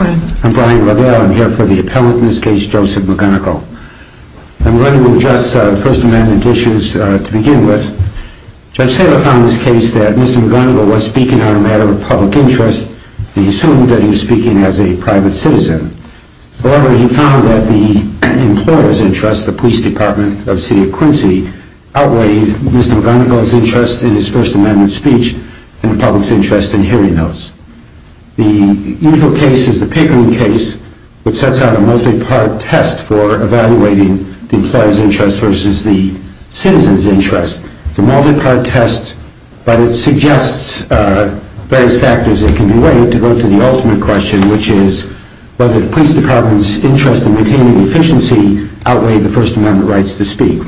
I'm here for the appellant in this case, Joseph McGunigle. I'm going to address the First Amendment issues to begin with. Judge Taylor found in this case that Mr. McGunigle was speaking on a matter of public interest. He assumed that he was speaking as a private citizen. However, he found that the employer's interest, the Police Department of City of Quincy, outweighed Mr. McGunigle's interest in his First Amendment speech and the public's interest in hearing those. The usual case is the Pickering case, which sets out a multi-part test for evaluating the employer's interest versus the citizen's interest. It's a multi-part test, but it suggests various factors that can be weighed to go to the ultimate question, which is whether the Police Department's interest in retaining efficiency outweighed the First Amendment rights to speak.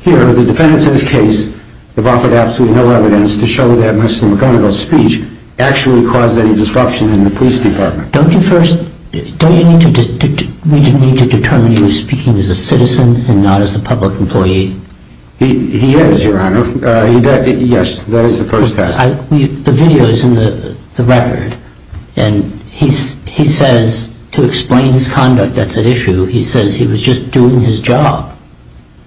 Here, the defendants in this case have offered absolutely no evidence to show that Mr. McGunigle's speech actually caused any disruption in the Police Department. Don't you need to determine he was speaking as a citizen and not as a public employee? He is, Your Honor. Yes, that is the first test. The video is in the record, and he says to explain his conduct that's at issue, he says he was just doing his job.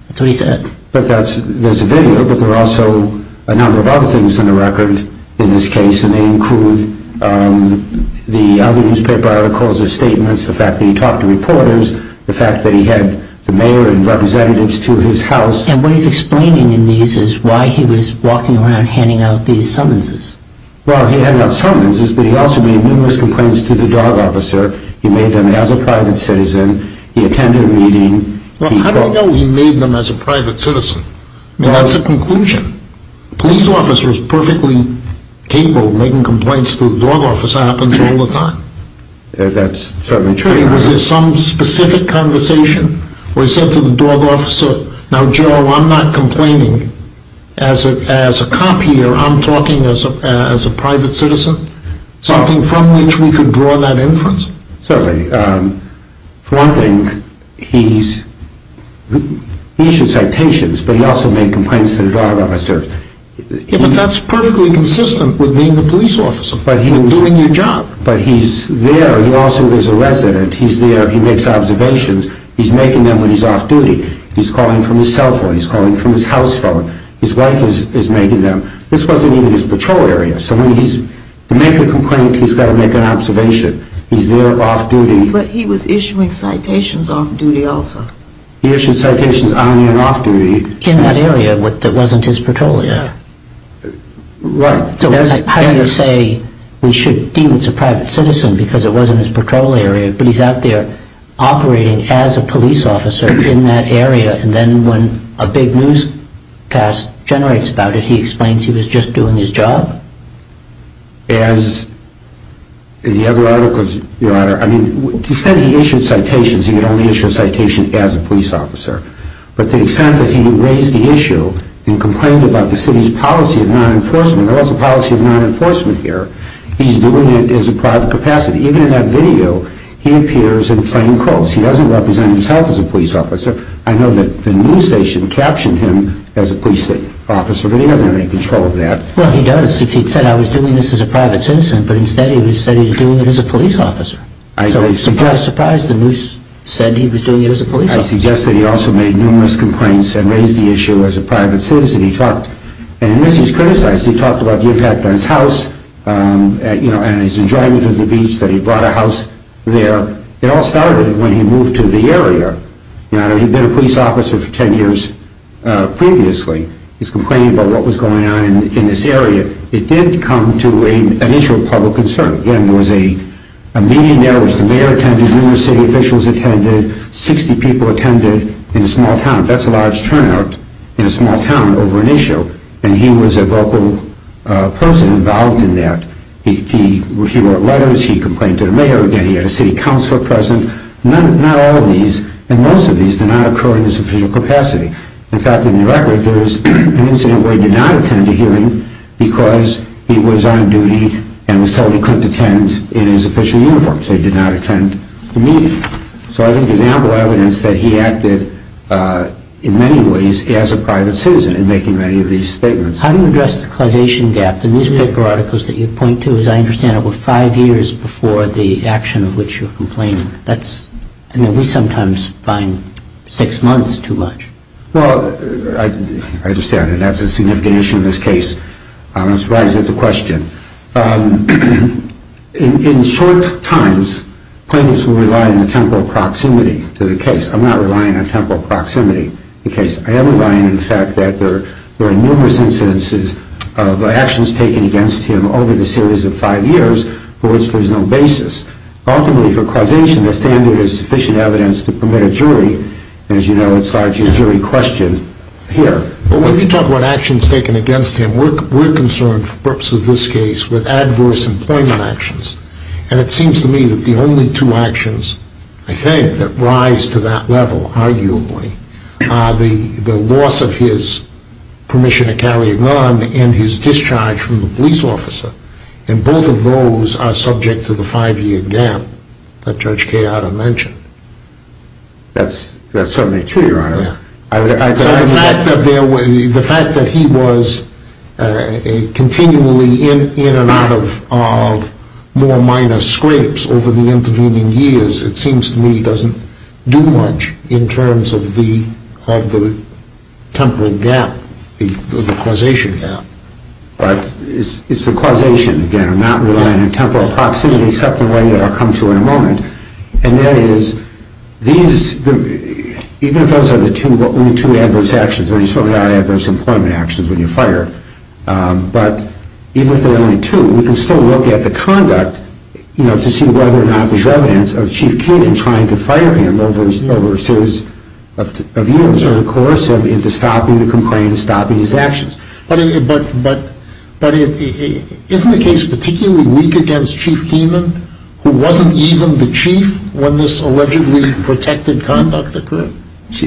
That's what he said. But that's, there's a video, but there are also a number of other things in the record in this case, and they include the other newspaper articles or statements, the fact that he talked to reporters, the fact that he had the mayor and representatives to his house. And what he's explaining in these is why he was walking around handing out these summonses. Well, he handed out summonses, but he also made numerous complaints to the dog officer. He made them as a private citizen. He attended a meeting. Well, how do you know he made them as a private citizen? I mean, that's a conclusion. A police officer is perfectly capable of making complaints to the dog officer. It happens all the time. That's certainly true. Was there some specific conversation where he said to the dog officer, now, Joe, I'm not complaining as a cop here, I'm talking as a private citizen? Something from which we could draw that inference? Certainly. For one thing, he issued citations, but he also made complaints to the dog officer. Yeah, but that's perfectly consistent with being a police officer and doing your job. But he's there. He also is a resident. He's there. He makes observations. He's making them when he's off-duty. He's calling from his cell phone. He's calling from his house phone. His wife is making them. This wasn't even his patrol area. So when he's to make a complaint, he's got to make an observation. He's there off-duty. But he was issuing citations off-duty also. He issued citations on and off-duty. In that area that wasn't his patrol area. Yeah. Right. So how do you say we should deal as a private citizen because it wasn't his patrol area, but he's out there operating as a police officer in that area, and then when a big newscast generates about it, he explains he was just doing his job? As the other articles, Your Honor, I mean, to the extent he issued citations, he could only issue a citation as a police officer. But to the extent that he raised the issue and complained about the city's policy of non-enforcement, there was a policy of non-enforcement here, he's doing it as a private capacity. Even in that video, he appears in plain clothes. He doesn't represent himself as a police officer. I know that the news station captioned him as a police officer, but he doesn't have any control of that. Well, he does if he'd said, I was doing this as a private citizen, but instead he said he was doing it as a police officer. I agree. So to my surprise, the news said he was doing it as a police officer. I suggest that he also made numerous complaints and raised the issue as a private citizen. He talked, and in this he's criticized, he talked about the impact on his house and his enjoyment of the beach, that he brought a house there. It all started when he moved to the area. Your Honor, he'd been a police officer for 10 years previously. He's complaining about what was going on in this area. It did come to an issue of public concern. Again, there was a meeting there, which the mayor attended, numerous city officials attended, 60 people attended in a small town. That's a large turnout in a small town over an issue, and he was a vocal person involved in that. He wrote letters, he complained to the mayor. Again, he had a city councilor present. Not all of these and most of these did not occur in his official capacity. In fact, in the record, there was an incident where he did not attend a hearing because he was on duty and was told he couldn't attend in his official uniform. So he did not attend the meeting. So I think there's ample evidence that he acted in many ways as a private citizen in making many of these statements. How do you address the causation gap? The newspaper articles that you point to, as I understand it, were five years before the action of which you're complaining. We sometimes find six months too much. Well, I understand, and that's a significant issue in this case. Let's rise to the question. In short times, plaintiffs will rely on the temporal proximity to the case. I'm not relying on temporal proximity to the case. I am relying on the fact that there are numerous incidences of actions taken against him over the series of five years for which there's no basis. Ultimately, for causation, the standard is sufficient evidence to permit a jury, and as you know, it's largely a jury question here. But when you talk about actions taken against him, we're concerned, for the purpose of this case, with adverse employment actions. And it seems to me that the only two actions, I think, that rise to that level, arguably, are the loss of his permission to carry a gun and his discharge from the police officer. And both of those are subject to the five-year gap that Judge Cayotta mentioned. That's certainly true, Your Honor. So the fact that he was continually in and out of more minor scrapes over the intervening years, it seems to me, doesn't do much in terms of the temporal gap, the causation gap. But it's the causation, again. I'm not relying on temporal proximity, except in the way that I'll come to in a moment. And that is, even if those are the only two adverse actions, and there's certainly not adverse employment actions when you fire, but even if there are only two, we can still look at the conduct to see whether or not there's evidence of Chief Keating trying to fire him over a series of years into stopping the complaints, stopping his actions. But isn't the case particularly weak against Chief Keenan, who wasn't even the chief when this allegedly protected conduct occurred? I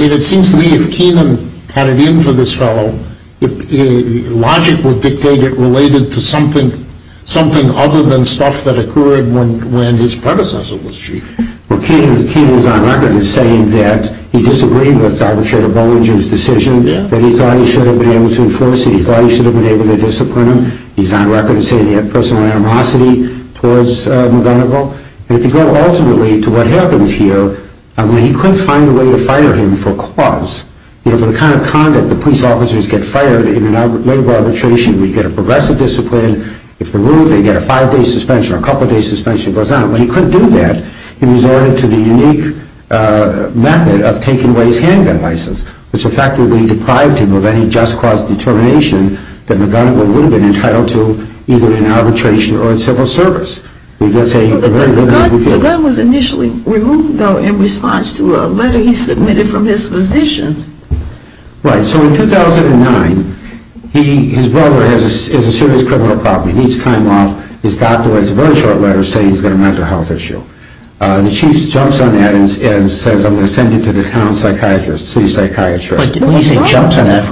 mean, it seems to me if Keenan had it in for this fellow, logic would dictate it related to something other than stuff that occurred when his predecessor was chief. Well, Keenan is on record as saying that he disagreed with Arbitrator Bollinger's decision, that he thought he should have been able to enforce it. He thought he should have been able to discipline him. He's on record as saying he had personal animosity towards McGonigal. And if you go ultimately to what happens here, I mean, he couldn't find a way to fire him for cause. You know, for the kind of conduct that police officers get fired in a labor arbitration, we get a progressive discipline. If they're ruled, they get a five-day suspension or a couple-day suspension. It goes on. When he couldn't do that, he resorted to the unique method of taking away his handgun license, which effectively deprived him of any just cause determination that McGonigal would have been entitled to either in arbitration or in civil service. The gun was initially removed, though, in response to a letter he submitted from his physician. Right. So in 2009, his brother has a serious criminal problem. He needs time off. His doctor writes one short letter saying he's got a mental health issue. The chief jumps on that and says, I'm going to send you to the town psychiatrist, city psychiatrist. When you say jumps on that,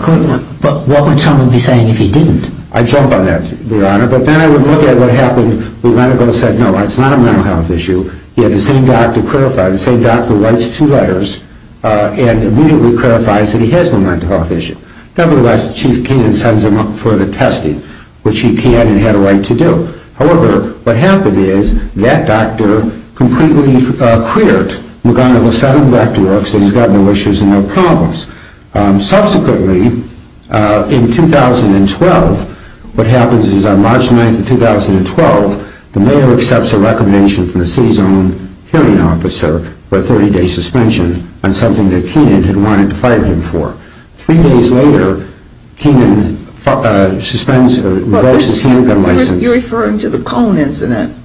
what would someone be saying if he didn't? I'd jump on that, Your Honor. But then I would look at what happened. McGonigal said, no, that's not a mental health issue. He had the same doctor clarify. The same doctor writes two letters and immediately clarifies that he has no mental health issue. Nevertheless, Chief Keenan sends him up for the testing, which he can and had a right to do. However, what happened is that doctor completely cleared McGonigal's set of records and he's got no issues and no problems. Subsequently, in 2012, what happens is on March 9th of 2012, the mayor accepts a recommendation from the city's own hearing officer for a 30-day suspension on something that Keenan had wanted to fire him for. Three days later, Keenan suspends or revokes his handgun license. You're referring to the Cone incident.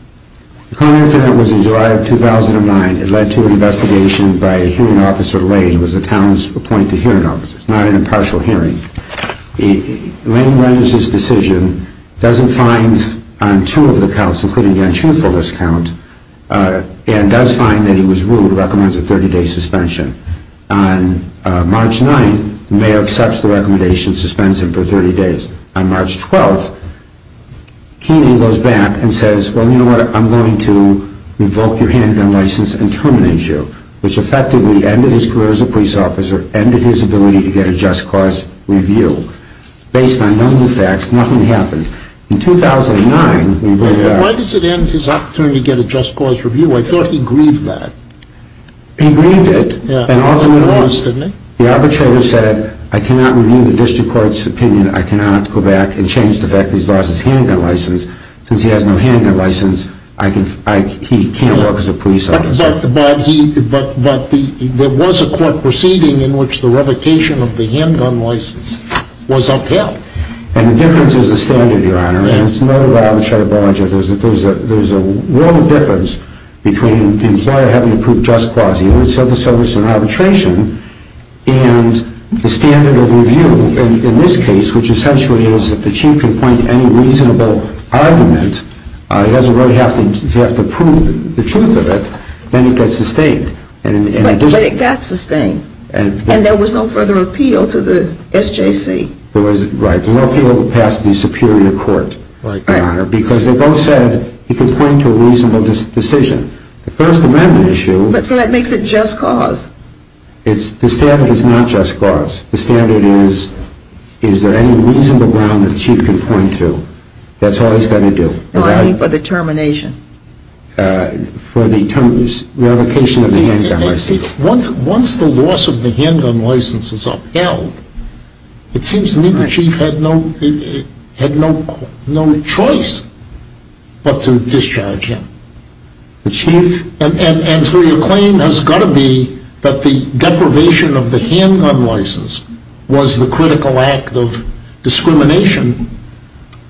The Cone incident was in July of 2009. It led to an investigation by a hearing officer, Lane, who was the town's appointed hearing officer. It's not an impartial hearing. Lane renders his decision, doesn't find on two of the counts, including the untruthfulness count, and does find that he was rude and recommends a 30-day suspension. On March 9th, the mayor accepts the recommendation, suspends him for 30 days. On March 12th, Keenan goes back and says, well, you know what? I'm going to revoke your handgun license and terminate you, which effectively ended his career as a police officer, ended his ability to get a just cause review. Based on none of the facts, nothing happened. In 2009, we bring it up. Why does it end his opportunity to get a just cause review? I thought he grieved that. He grieved it. And ultimately, the arbitrator said, I cannot review the district court's opinion. I cannot go back and change the fact that he's lost his handgun license. Since he has no handgun license, he can't work as a police officer. But there was a court proceeding in which the revocation of the handgun license was upheld. And the difference is the standard, Your Honor. And it's noted by Arbitrator Bollinger that there's a world of difference between the employer having to prove just cause. He wants civil service and arbitration. And the standard of review in this case, which essentially is that the chief can point to any reasonable argument. He doesn't really have to prove the truth of it. Then it gets sustained. But it got sustained. And there was no further appeal to the SJC. Right. There was no further appeal to pass the superior court. Right. Because they both said he can point to a reasonable decision. The First Amendment issue. So that makes it just cause. The standard is not just cause. The standard is, is there any reasonable ground that the chief can point to? That's all he's got to do. I mean for the termination. For the termination, revocation of the handgun license. Once the loss of the handgun license is upheld, it seems to me the chief had no choice but to discharge him. The chief? And so your claim has got to be that the deprivation of the handgun license was the critical act of discrimination.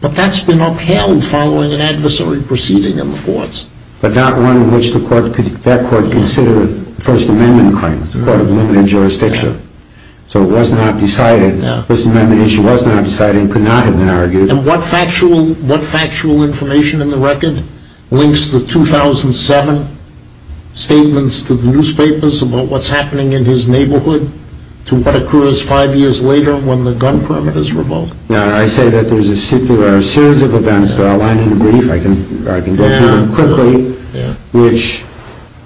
But that's been upheld following an adversary proceeding in the courts. But not one in which that court considered First Amendment claims. It's a court of limited jurisdiction. So it was not decided. The First Amendment issue was not decided and could not have been argued. And what factual information in the record links the 2007 statements to the newspapers about what's happening in his neighborhood to what occurs five years later when the gun permit is revoked? Now, I say that there's a series of events that I'll line in brief. I can go through them quickly, which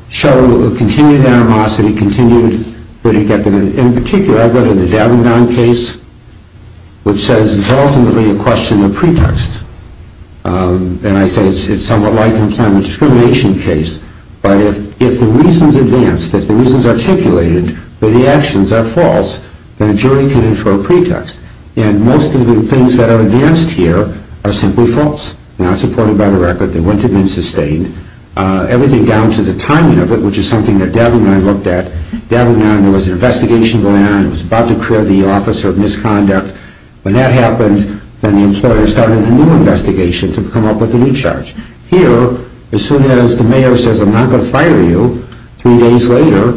show a continued animosity, continued good intent. In particular, I go to the Dabbingdown case, which says it's ultimately a question of pretext. And I say it's somewhat like the employment discrimination case. But if the reason's advanced, if the reason's articulated, but the actions are false, then a jury can infer a pretext. And most of the things that are advanced here are simply false, not supported by the record. They wouldn't have been sustained. Everything down to the timing of it, which is something that Dabbingdown looked at. Dabbingdown, there was an investigation going on. It was about to clear the office of misconduct. When that happened, then the employer started a new investigation to come up with a new charge. Here, as soon as the mayor says, I'm not going to fire you, three days later,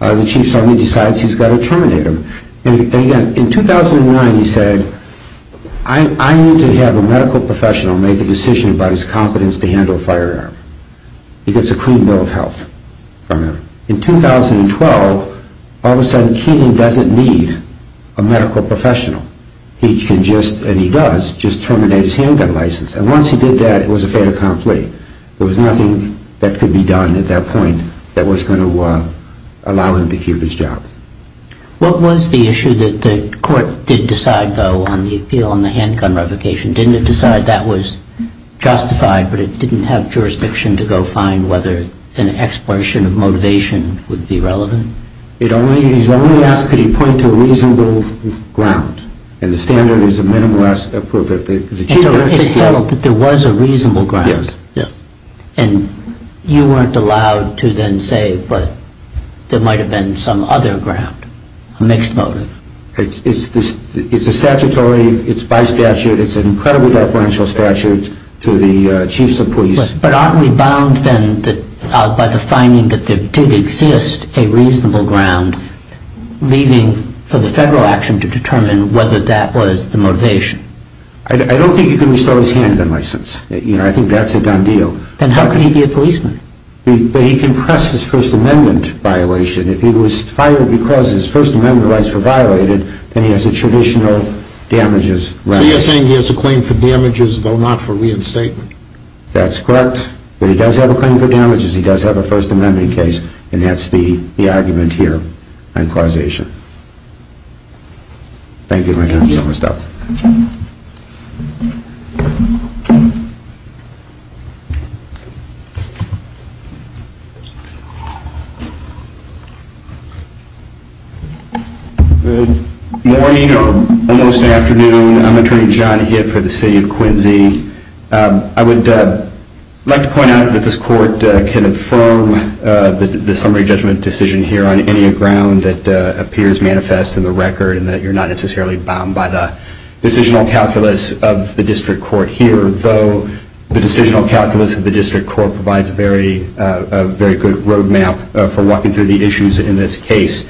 the chief suddenly decides he's got to terminate him. And again, in 2009, he said, I need to have a medical professional make a decision about his competence to handle a firearm. He gets a clean bill of health from him. In 2012, all of a sudden, Keenan doesn't need a medical professional. He can just, and he does, just terminate his handgun license. And once he did that, it was a fait accompli. There was nothing that could be done at that point that was going to allow him to keep his job. What was the issue that the court did decide, though, on the appeal on the handgun revocation? Didn't it decide that was justified, but it didn't have jurisdiction to go find whether an expulsion of motivation would be relevant? He's only asked could he point to a reasonable ground. And the standard is a minimalist approach. And so it held that there was a reasonable ground. Yes. And you weren't allowed to then say, but there might have been some other ground, a mixed motive. It's a statutory, it's by statute, it's an incredibly deferential statute to the chiefs of police. But aren't we bound, then, by the finding that there did exist a reasonable ground, leaving for the federal action to determine whether that was the motivation? I don't think you can restore his handgun license. I think that's a done deal. Then how can he be a policeman? He can press his First Amendment violation. If he was fired because his First Amendment rights were violated, then he has a traditional damages right. So you're saying he has a claim for damages, though not for reinstatement? That's correct. But he does have a claim for damages. He does have a First Amendment case. And that's the argument here on causation. Thank you, my friends. We're almost out. Good morning or almost afternoon. I'm Attorney John Hitt for the city of Quincy. I would like to point out that this court can affirm the summary judgment decision here on any ground that appears manifest in the record and that you're not necessarily bound by the decisional calculus of the district court here. Though the decisional calculus of the district court provides a very good road map for walking through the issues in this case.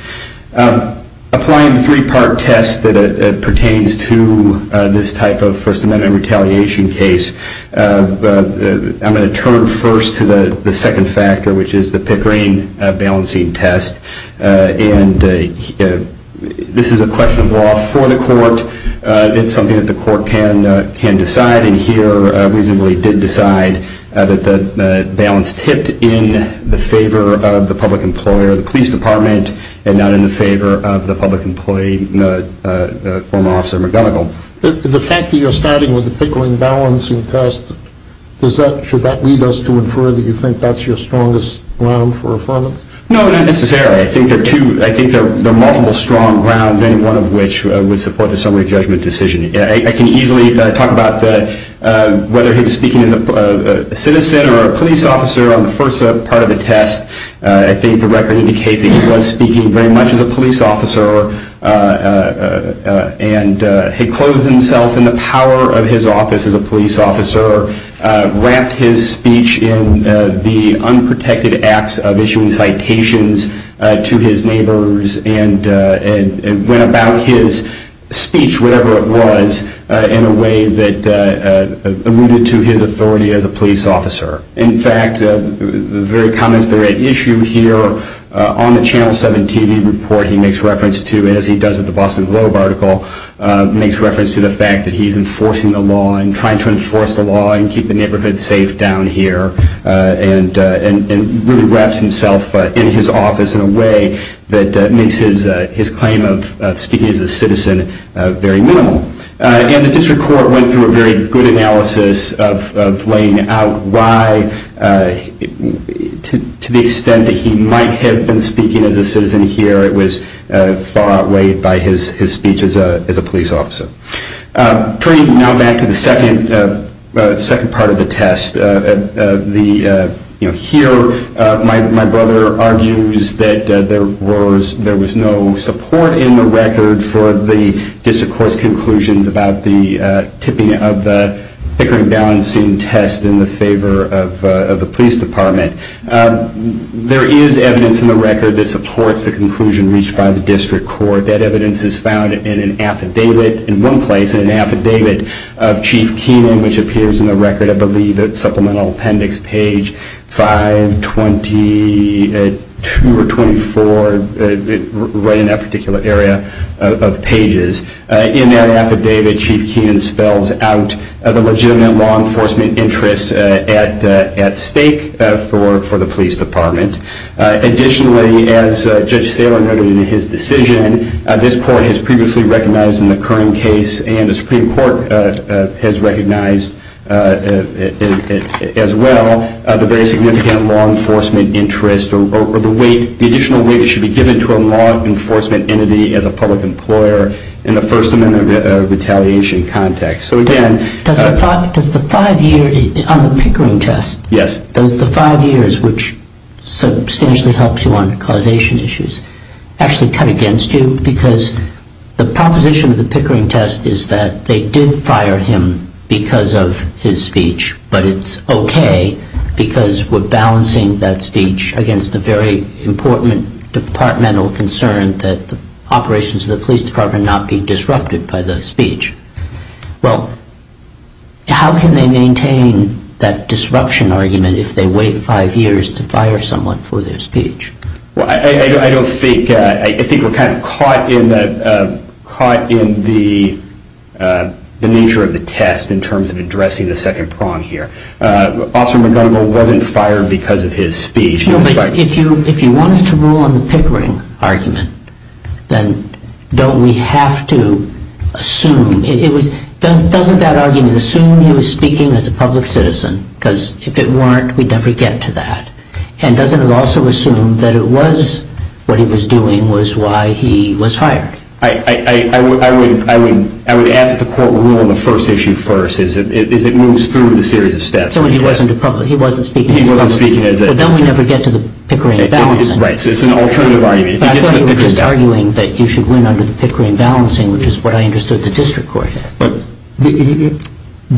Applying a three-part test that pertains to this type of First Amendment retaliation case, I'm going to turn first to the second factor, which is the Pickering balancing test. And this is a question of law for the court. It's something that the court can decide. And here, reasonably, it did decide that the balance tipped in the favor of the public employer, the police department, and not in the favor of the public employee, former Officer McGonigal. The fact that you're starting with the Pickering balancing test, should that lead us to infer that you think that's your strongest ground for affirmance? No, not necessarily. I think there are multiple strong grounds, any one of which would support the summary judgment decision. I can easily talk about whether he was speaking as a citizen or a police officer on the first part of the test. I think the record indicates that he was speaking very much as a police officer and had clothed himself in the power of his office as a police officer, wrapped his speech in the unprotected acts of issuing citations to his neighbors, and went about his speech, whatever it was, in a way that alluded to his authority as a police officer. In fact, the very comments that are at issue here on the Channel 7 TV report, he makes reference to, as he does with the Boston Globe article, makes reference to the fact that he's enforcing the law, and trying to enforce the law and keep the neighborhood safe down here, and really wraps himself in his office in a way that makes his claim of speaking as a citizen very minimal. And the district court went through a very good analysis of laying out why, to the extent that he might have been speaking as a citizen here, it was far outweighed by his speech as a police officer. Turning now back to the second part of the test, here my brother argues that there was no support in the record for the district court's conclusions about the tipping of the hickering balancing test in the favor of the police department. There is evidence in the record that supports the conclusion reached by the district court. That evidence is found in an affidavit, in one place, in an affidavit of Chief Keenan, which appears in the record, I believe, at supplemental appendix page 522 or 524, right in that particular area of pages. In that affidavit, Chief Keenan spells out the legitimate law enforcement interests at stake for the police department. Additionally, as Judge Saylor noted in his decision, this court has previously recognized in the current case, and the Supreme Court has recognized as well, the very significant law enforcement interest or the additional weight that should be given to a law enforcement entity as a public employer in the First Amendment retaliation context. Does the five years on the hickering test, does the five years, which substantially helps you on causation issues, actually cut against you? Because the proposition of the hickering test is that they did fire him because of his speech, but it's okay because we're balancing that speech against the very important departmental concern that the operations of the police department not be disrupted by the speech. Well, how can they maintain that disruption argument if they wait five years to fire someone for their speech? Well, I don't think, I think we're kind of caught in the nature of the test in terms of addressing the second prong here. Officer McGonigal wasn't fired because of his speech. No, but if you wanted to rule on the hickering argument, then don't we have to assume, doesn't that argument assume he was speaking as a public citizen? Because if it weren't, we'd never get to that. And doesn't it also assume that it was what he was doing was why he was fired? I would ask that the court rule on the first issue first as it moves through the series of steps. He wasn't speaking as a public citizen. But then we'd never get to the hickering and balancing. Right, so it's an alternative argument. But I thought you were just arguing that you should win under the hickering and balancing, which is what I understood the district court had. But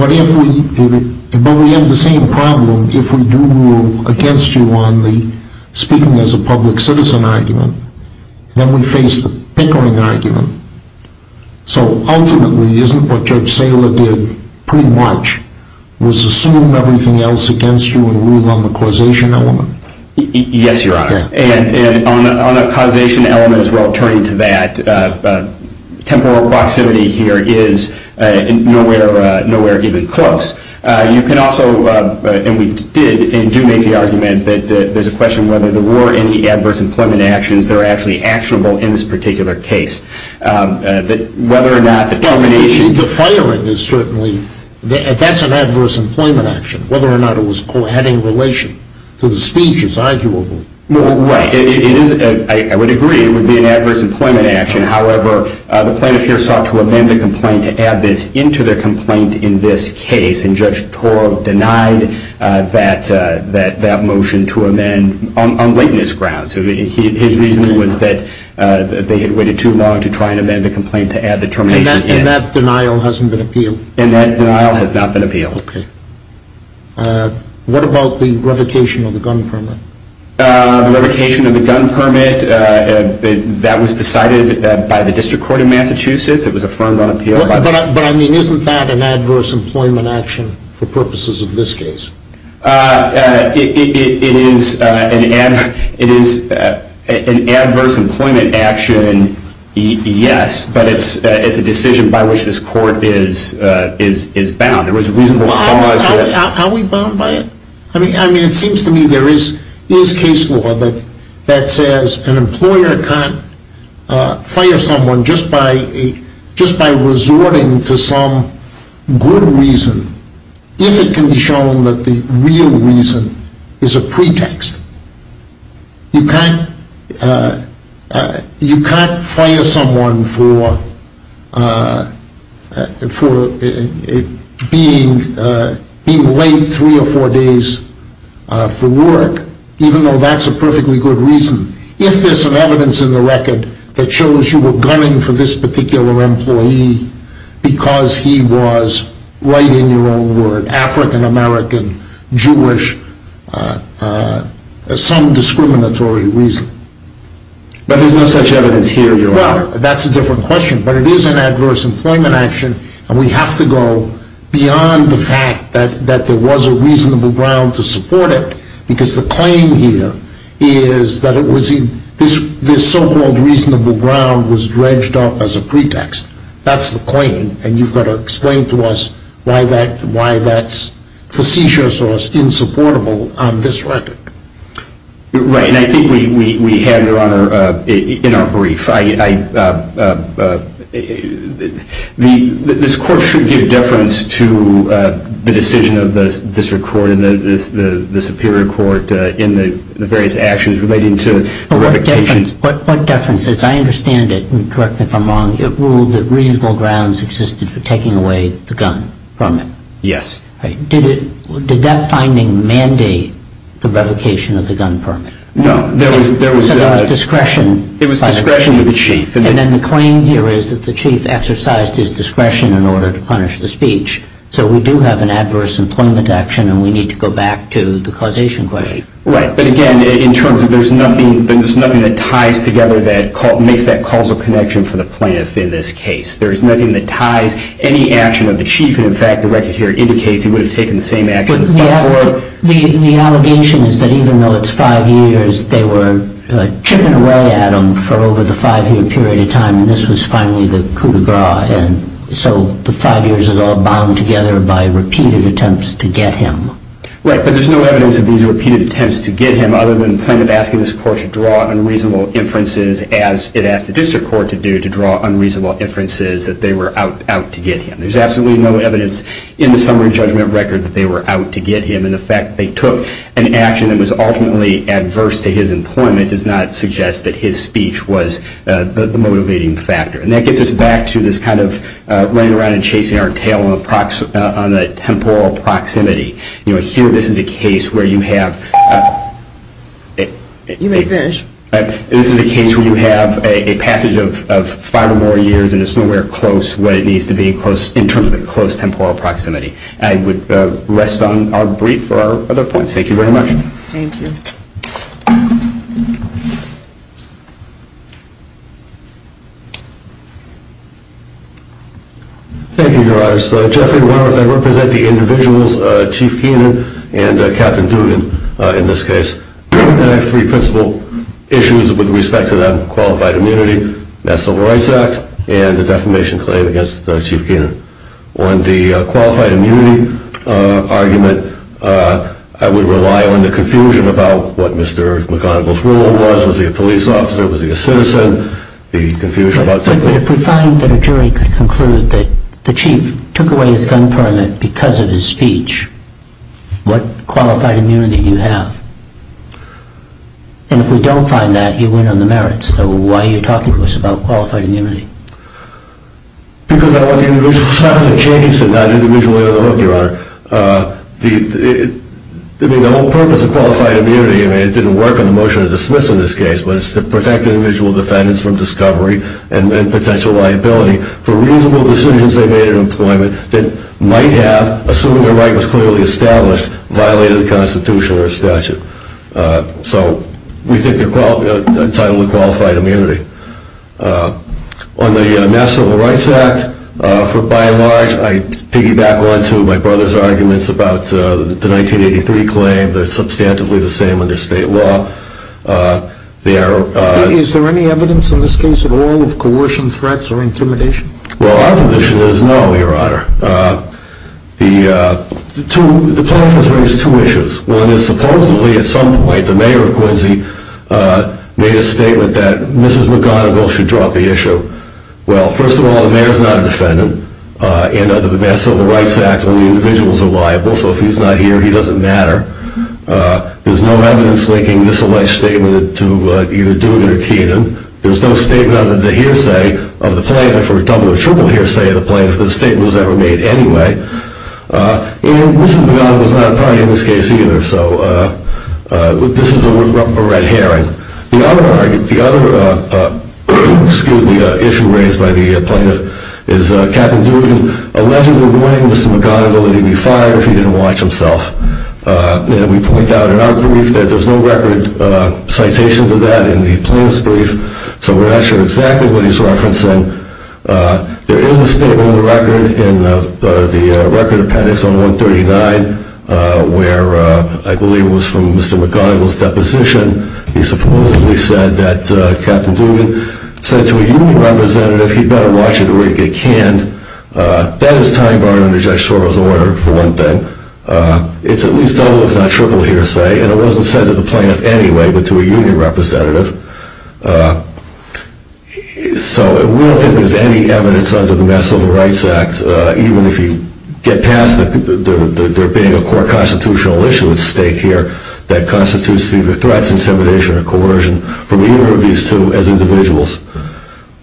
we have the same problem if we do rule against you on the speaking as a public citizen argument, then we face the hickering argument. So ultimately, isn't what Judge Saylor did pre-March, was assume everything else against you and rule on the causation element? Yes, Your Honor. And on the causation element as well, turning to that, temporal proximity here is nowhere even close. You can also, and we did and do make the argument that there's a question whether there were any adverse employment actions that are actually actionable in this particular case. Whether or not the termination. The firing is certainly, that's an adverse employment action. Whether or not it was having relation to the speech is arguable. Right, I would agree it would be an adverse employment action. However, the plaintiff here sought to amend the complaint to add this into their complaint in this case. And Judge Torr denied that motion to amend on witness grounds. His reasoning was that they had waited too long to try and amend the complaint to add the termination in. And that denial hasn't been appealed? And that denial has not been appealed. Okay. What about the revocation of the gun permit? The revocation of the gun permit, that was decided by the district court in Massachusetts. It was affirmed on appeal by the district court. But I mean, isn't that an adverse employment action for purposes of this case? It is an adverse employment action, yes. But it's a decision by which this court is bound. Are we bound by it? I mean, it seems to me there is case law that says an employer can't fire someone just by resorting to some good reason. If it can be shown that the real reason is a pretext. You can't fire someone for being late three or four days for work, even though that's a perfectly good reason. If there's some evidence in the record that shows you were gunning for this particular employee because he was, write in your own word, African American, Jewish, some discriminatory reason. But there's no such evidence here, Your Honor. Well, that's a different question. But it is an adverse employment action, and we have to go beyond the fact that there was a reasonable ground to support it. Because the claim here is that this so-called reasonable ground was dredged up as a pretext. That's the claim, and you've got to explain to us why that's facetious or insupportable on this record. Right, and I think we have, Your Honor, in our brief. This court should give deference to the decision of the district court and the superior court in the various actions relating to revocation. But what deference? As I understand it, and correct me if I'm wrong, it ruled that reasonable grounds existed for taking away the gun permit. Yes. Did that finding mandate the revocation of the gun permit? No. So there was discretion. It was discretion of the chief. And then the claim here is that the chief exercised his discretion in order to punish the speech. So we do have an adverse employment action, and we need to go back to the causation question. Right. But again, in terms of there's nothing that ties together that makes that causal connection for the plaintiff in this case. There is nothing that ties any action of the chief. And in fact, the record here indicates he would have taken the same action before. The allegation is that even though it's five years, they were chipping away at him for over the five-year period of time. And this was finally the coup de grace. And so the five years is all bound together by repeated attempts to get him. Right. But there's no evidence of these repeated attempts to get him other than the plaintiff asking this court to draw unreasonable inferences, as it asked the district court to do, to draw unreasonable inferences that they were out to get him. There's absolutely no evidence in the summary judgment record that they were out to get him. And the fact that they took an action that was ultimately adverse to his employment does not suggest that his speech was the motivating factor. And that gets us back to this kind of running around and chasing our tail on the temporal proximity. You know, here this is a case where you have a passage of five or more years, and it's nowhere close what it needs to be in terms of the close temporal proximity. I would rest on our brief for our other points. Thank you very much. Thank you. Thank you, Your Honors. Jeffrey Morris, I represent the individuals, Chief Keenan and Captain Dugan, in this case. And I have three principal issues with respect to that qualified immunity, that Civil Rights Act, and the defamation claim against Chief Keenan. On the qualified immunity argument, I would rely on the confusion about what Mr. McConnell's role was. Was he a police officer? Was he a citizen? The confusion about taking a gun. But if we find that a jury could conclude that the chief took away his gun permit because of his speech, what qualified immunity do you have? And if we don't find that, you win on the merits. So why are you talking to us about qualified immunity? Because I want the individual. It's not going to change to not individually on the hook, Your Honor. I mean, the whole purpose of qualified immunity, I mean, it didn't work on the motion of dismissal in this case, but it's to protect individual defendants from discovery and potential liability for reasonable decisions they made in employment that might have, assuming their right was clearly established, violated the Constitution or statute. So we think they're entitled to qualified immunity. On the Mass Civil Rights Act, by and large, I piggyback onto my brother's arguments about the 1983 claim. They're substantively the same under state law. Is there any evidence in this case at all of coercion, threats, or intimidation? Well, our position is no, Your Honor. The plaintiff has raised two issues. One is supposedly at some point the mayor of Quincy made a statement that Mrs. McGonigal should drop the issue. Well, first of all, the mayor is not a defendant, and under the Mass Civil Rights Act, only individuals are liable. So if he's not here, he doesn't matter. There's no evidence linking this alleged statement to either Dooner or Keenan. There's no statement under the hearsay of the plaintiff or a double or triple hearsay of the plaintiff that the statement was ever made anyway. And Mrs. McGonigal is not a party in this case either. So this is a red herring. The other issue raised by the plaintiff is Captain Dugan allegedly warning Mrs. McGonigal that he'd be fired if he didn't watch himself. And we point out in our brief that there's no record citation to that in the plaintiff's brief. So we're not sure exactly what he's referencing. There is a statement in the record, in the record appendix on 139, where I believe it was from Mr. McGonigal's deposition. He supposedly said that Captain Dugan said to a union representative he'd better watch it or it'd get canned. That is time-bound under Judge Soros' order, for one thing. It's at least double if not triple hearsay, and it wasn't said to the plaintiff anyway but to a union representative. So we don't think there's any evidence under the Mass Civil Rights Act, even if you get past there being a core constitutional issue at stake here, that constitutes either threats, intimidation, or coercion from either of these two as individuals.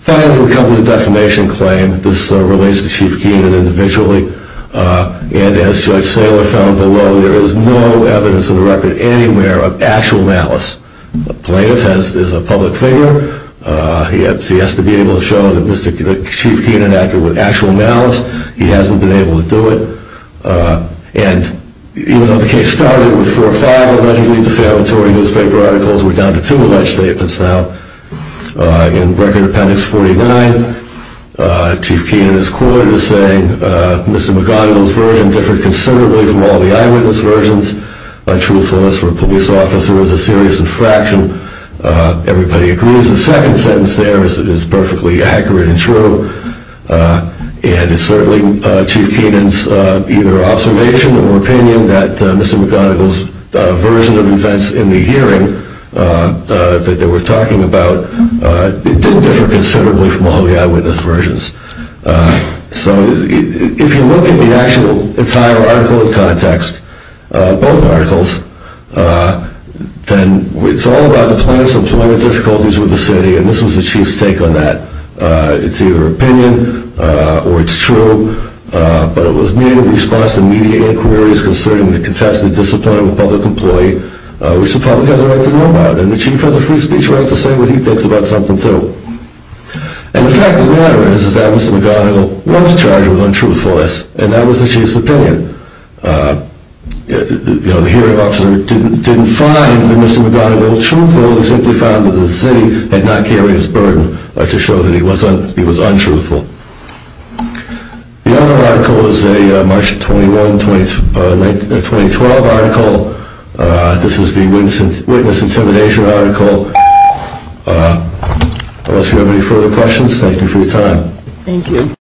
Finally, we come to the defamation claim. This relates to Chief Keenan individually. And as Judge Saylor found below, there is no evidence in the record anywhere of actual malice. The plaintiff is a public figure. He has to be able to show that Chief Keenan acted with actual malice. He hasn't been able to do it. And even though the case started with four or five allegedly defamatory newspaper articles, we're down to two alleged statements now. In Record Appendix 49, Chief Keenan is quoted as saying, Mr. McGonigal's version differed considerably from all the eyewitness versions. My truthfulness for a police officer is a serious infraction. Everybody agrees the second sentence there is perfectly accurate and true. And it's certainly Chief Keenan's either observation or opinion that Mr. McGonigal's version of events in the hearing that they were talking about did differ considerably from all the eyewitness versions. So if you look at the actual entire article in context, both articles, then it's all about the plaintiff's employment difficulties with the city, and this was the Chief's take on that. It's either opinion or it's true, but it was made in response to media inquiries concerning the contested discipline of a public employee, which the public has a right to know about, and the Chief has a free speech right to say what he thinks about something, too. And the fact of the matter is that Mr. McGonigal was charged with untruthfulness, and that was the Chief's opinion. The hearing officer didn't find that Mr. McGonigal truthful, he simply found that the city had not carried his burden to show that he was untruthful. The other article is a March 21, 2012 article. This is the witness intimidation article. Unless you have any further questions, thank you for your time. Thank you.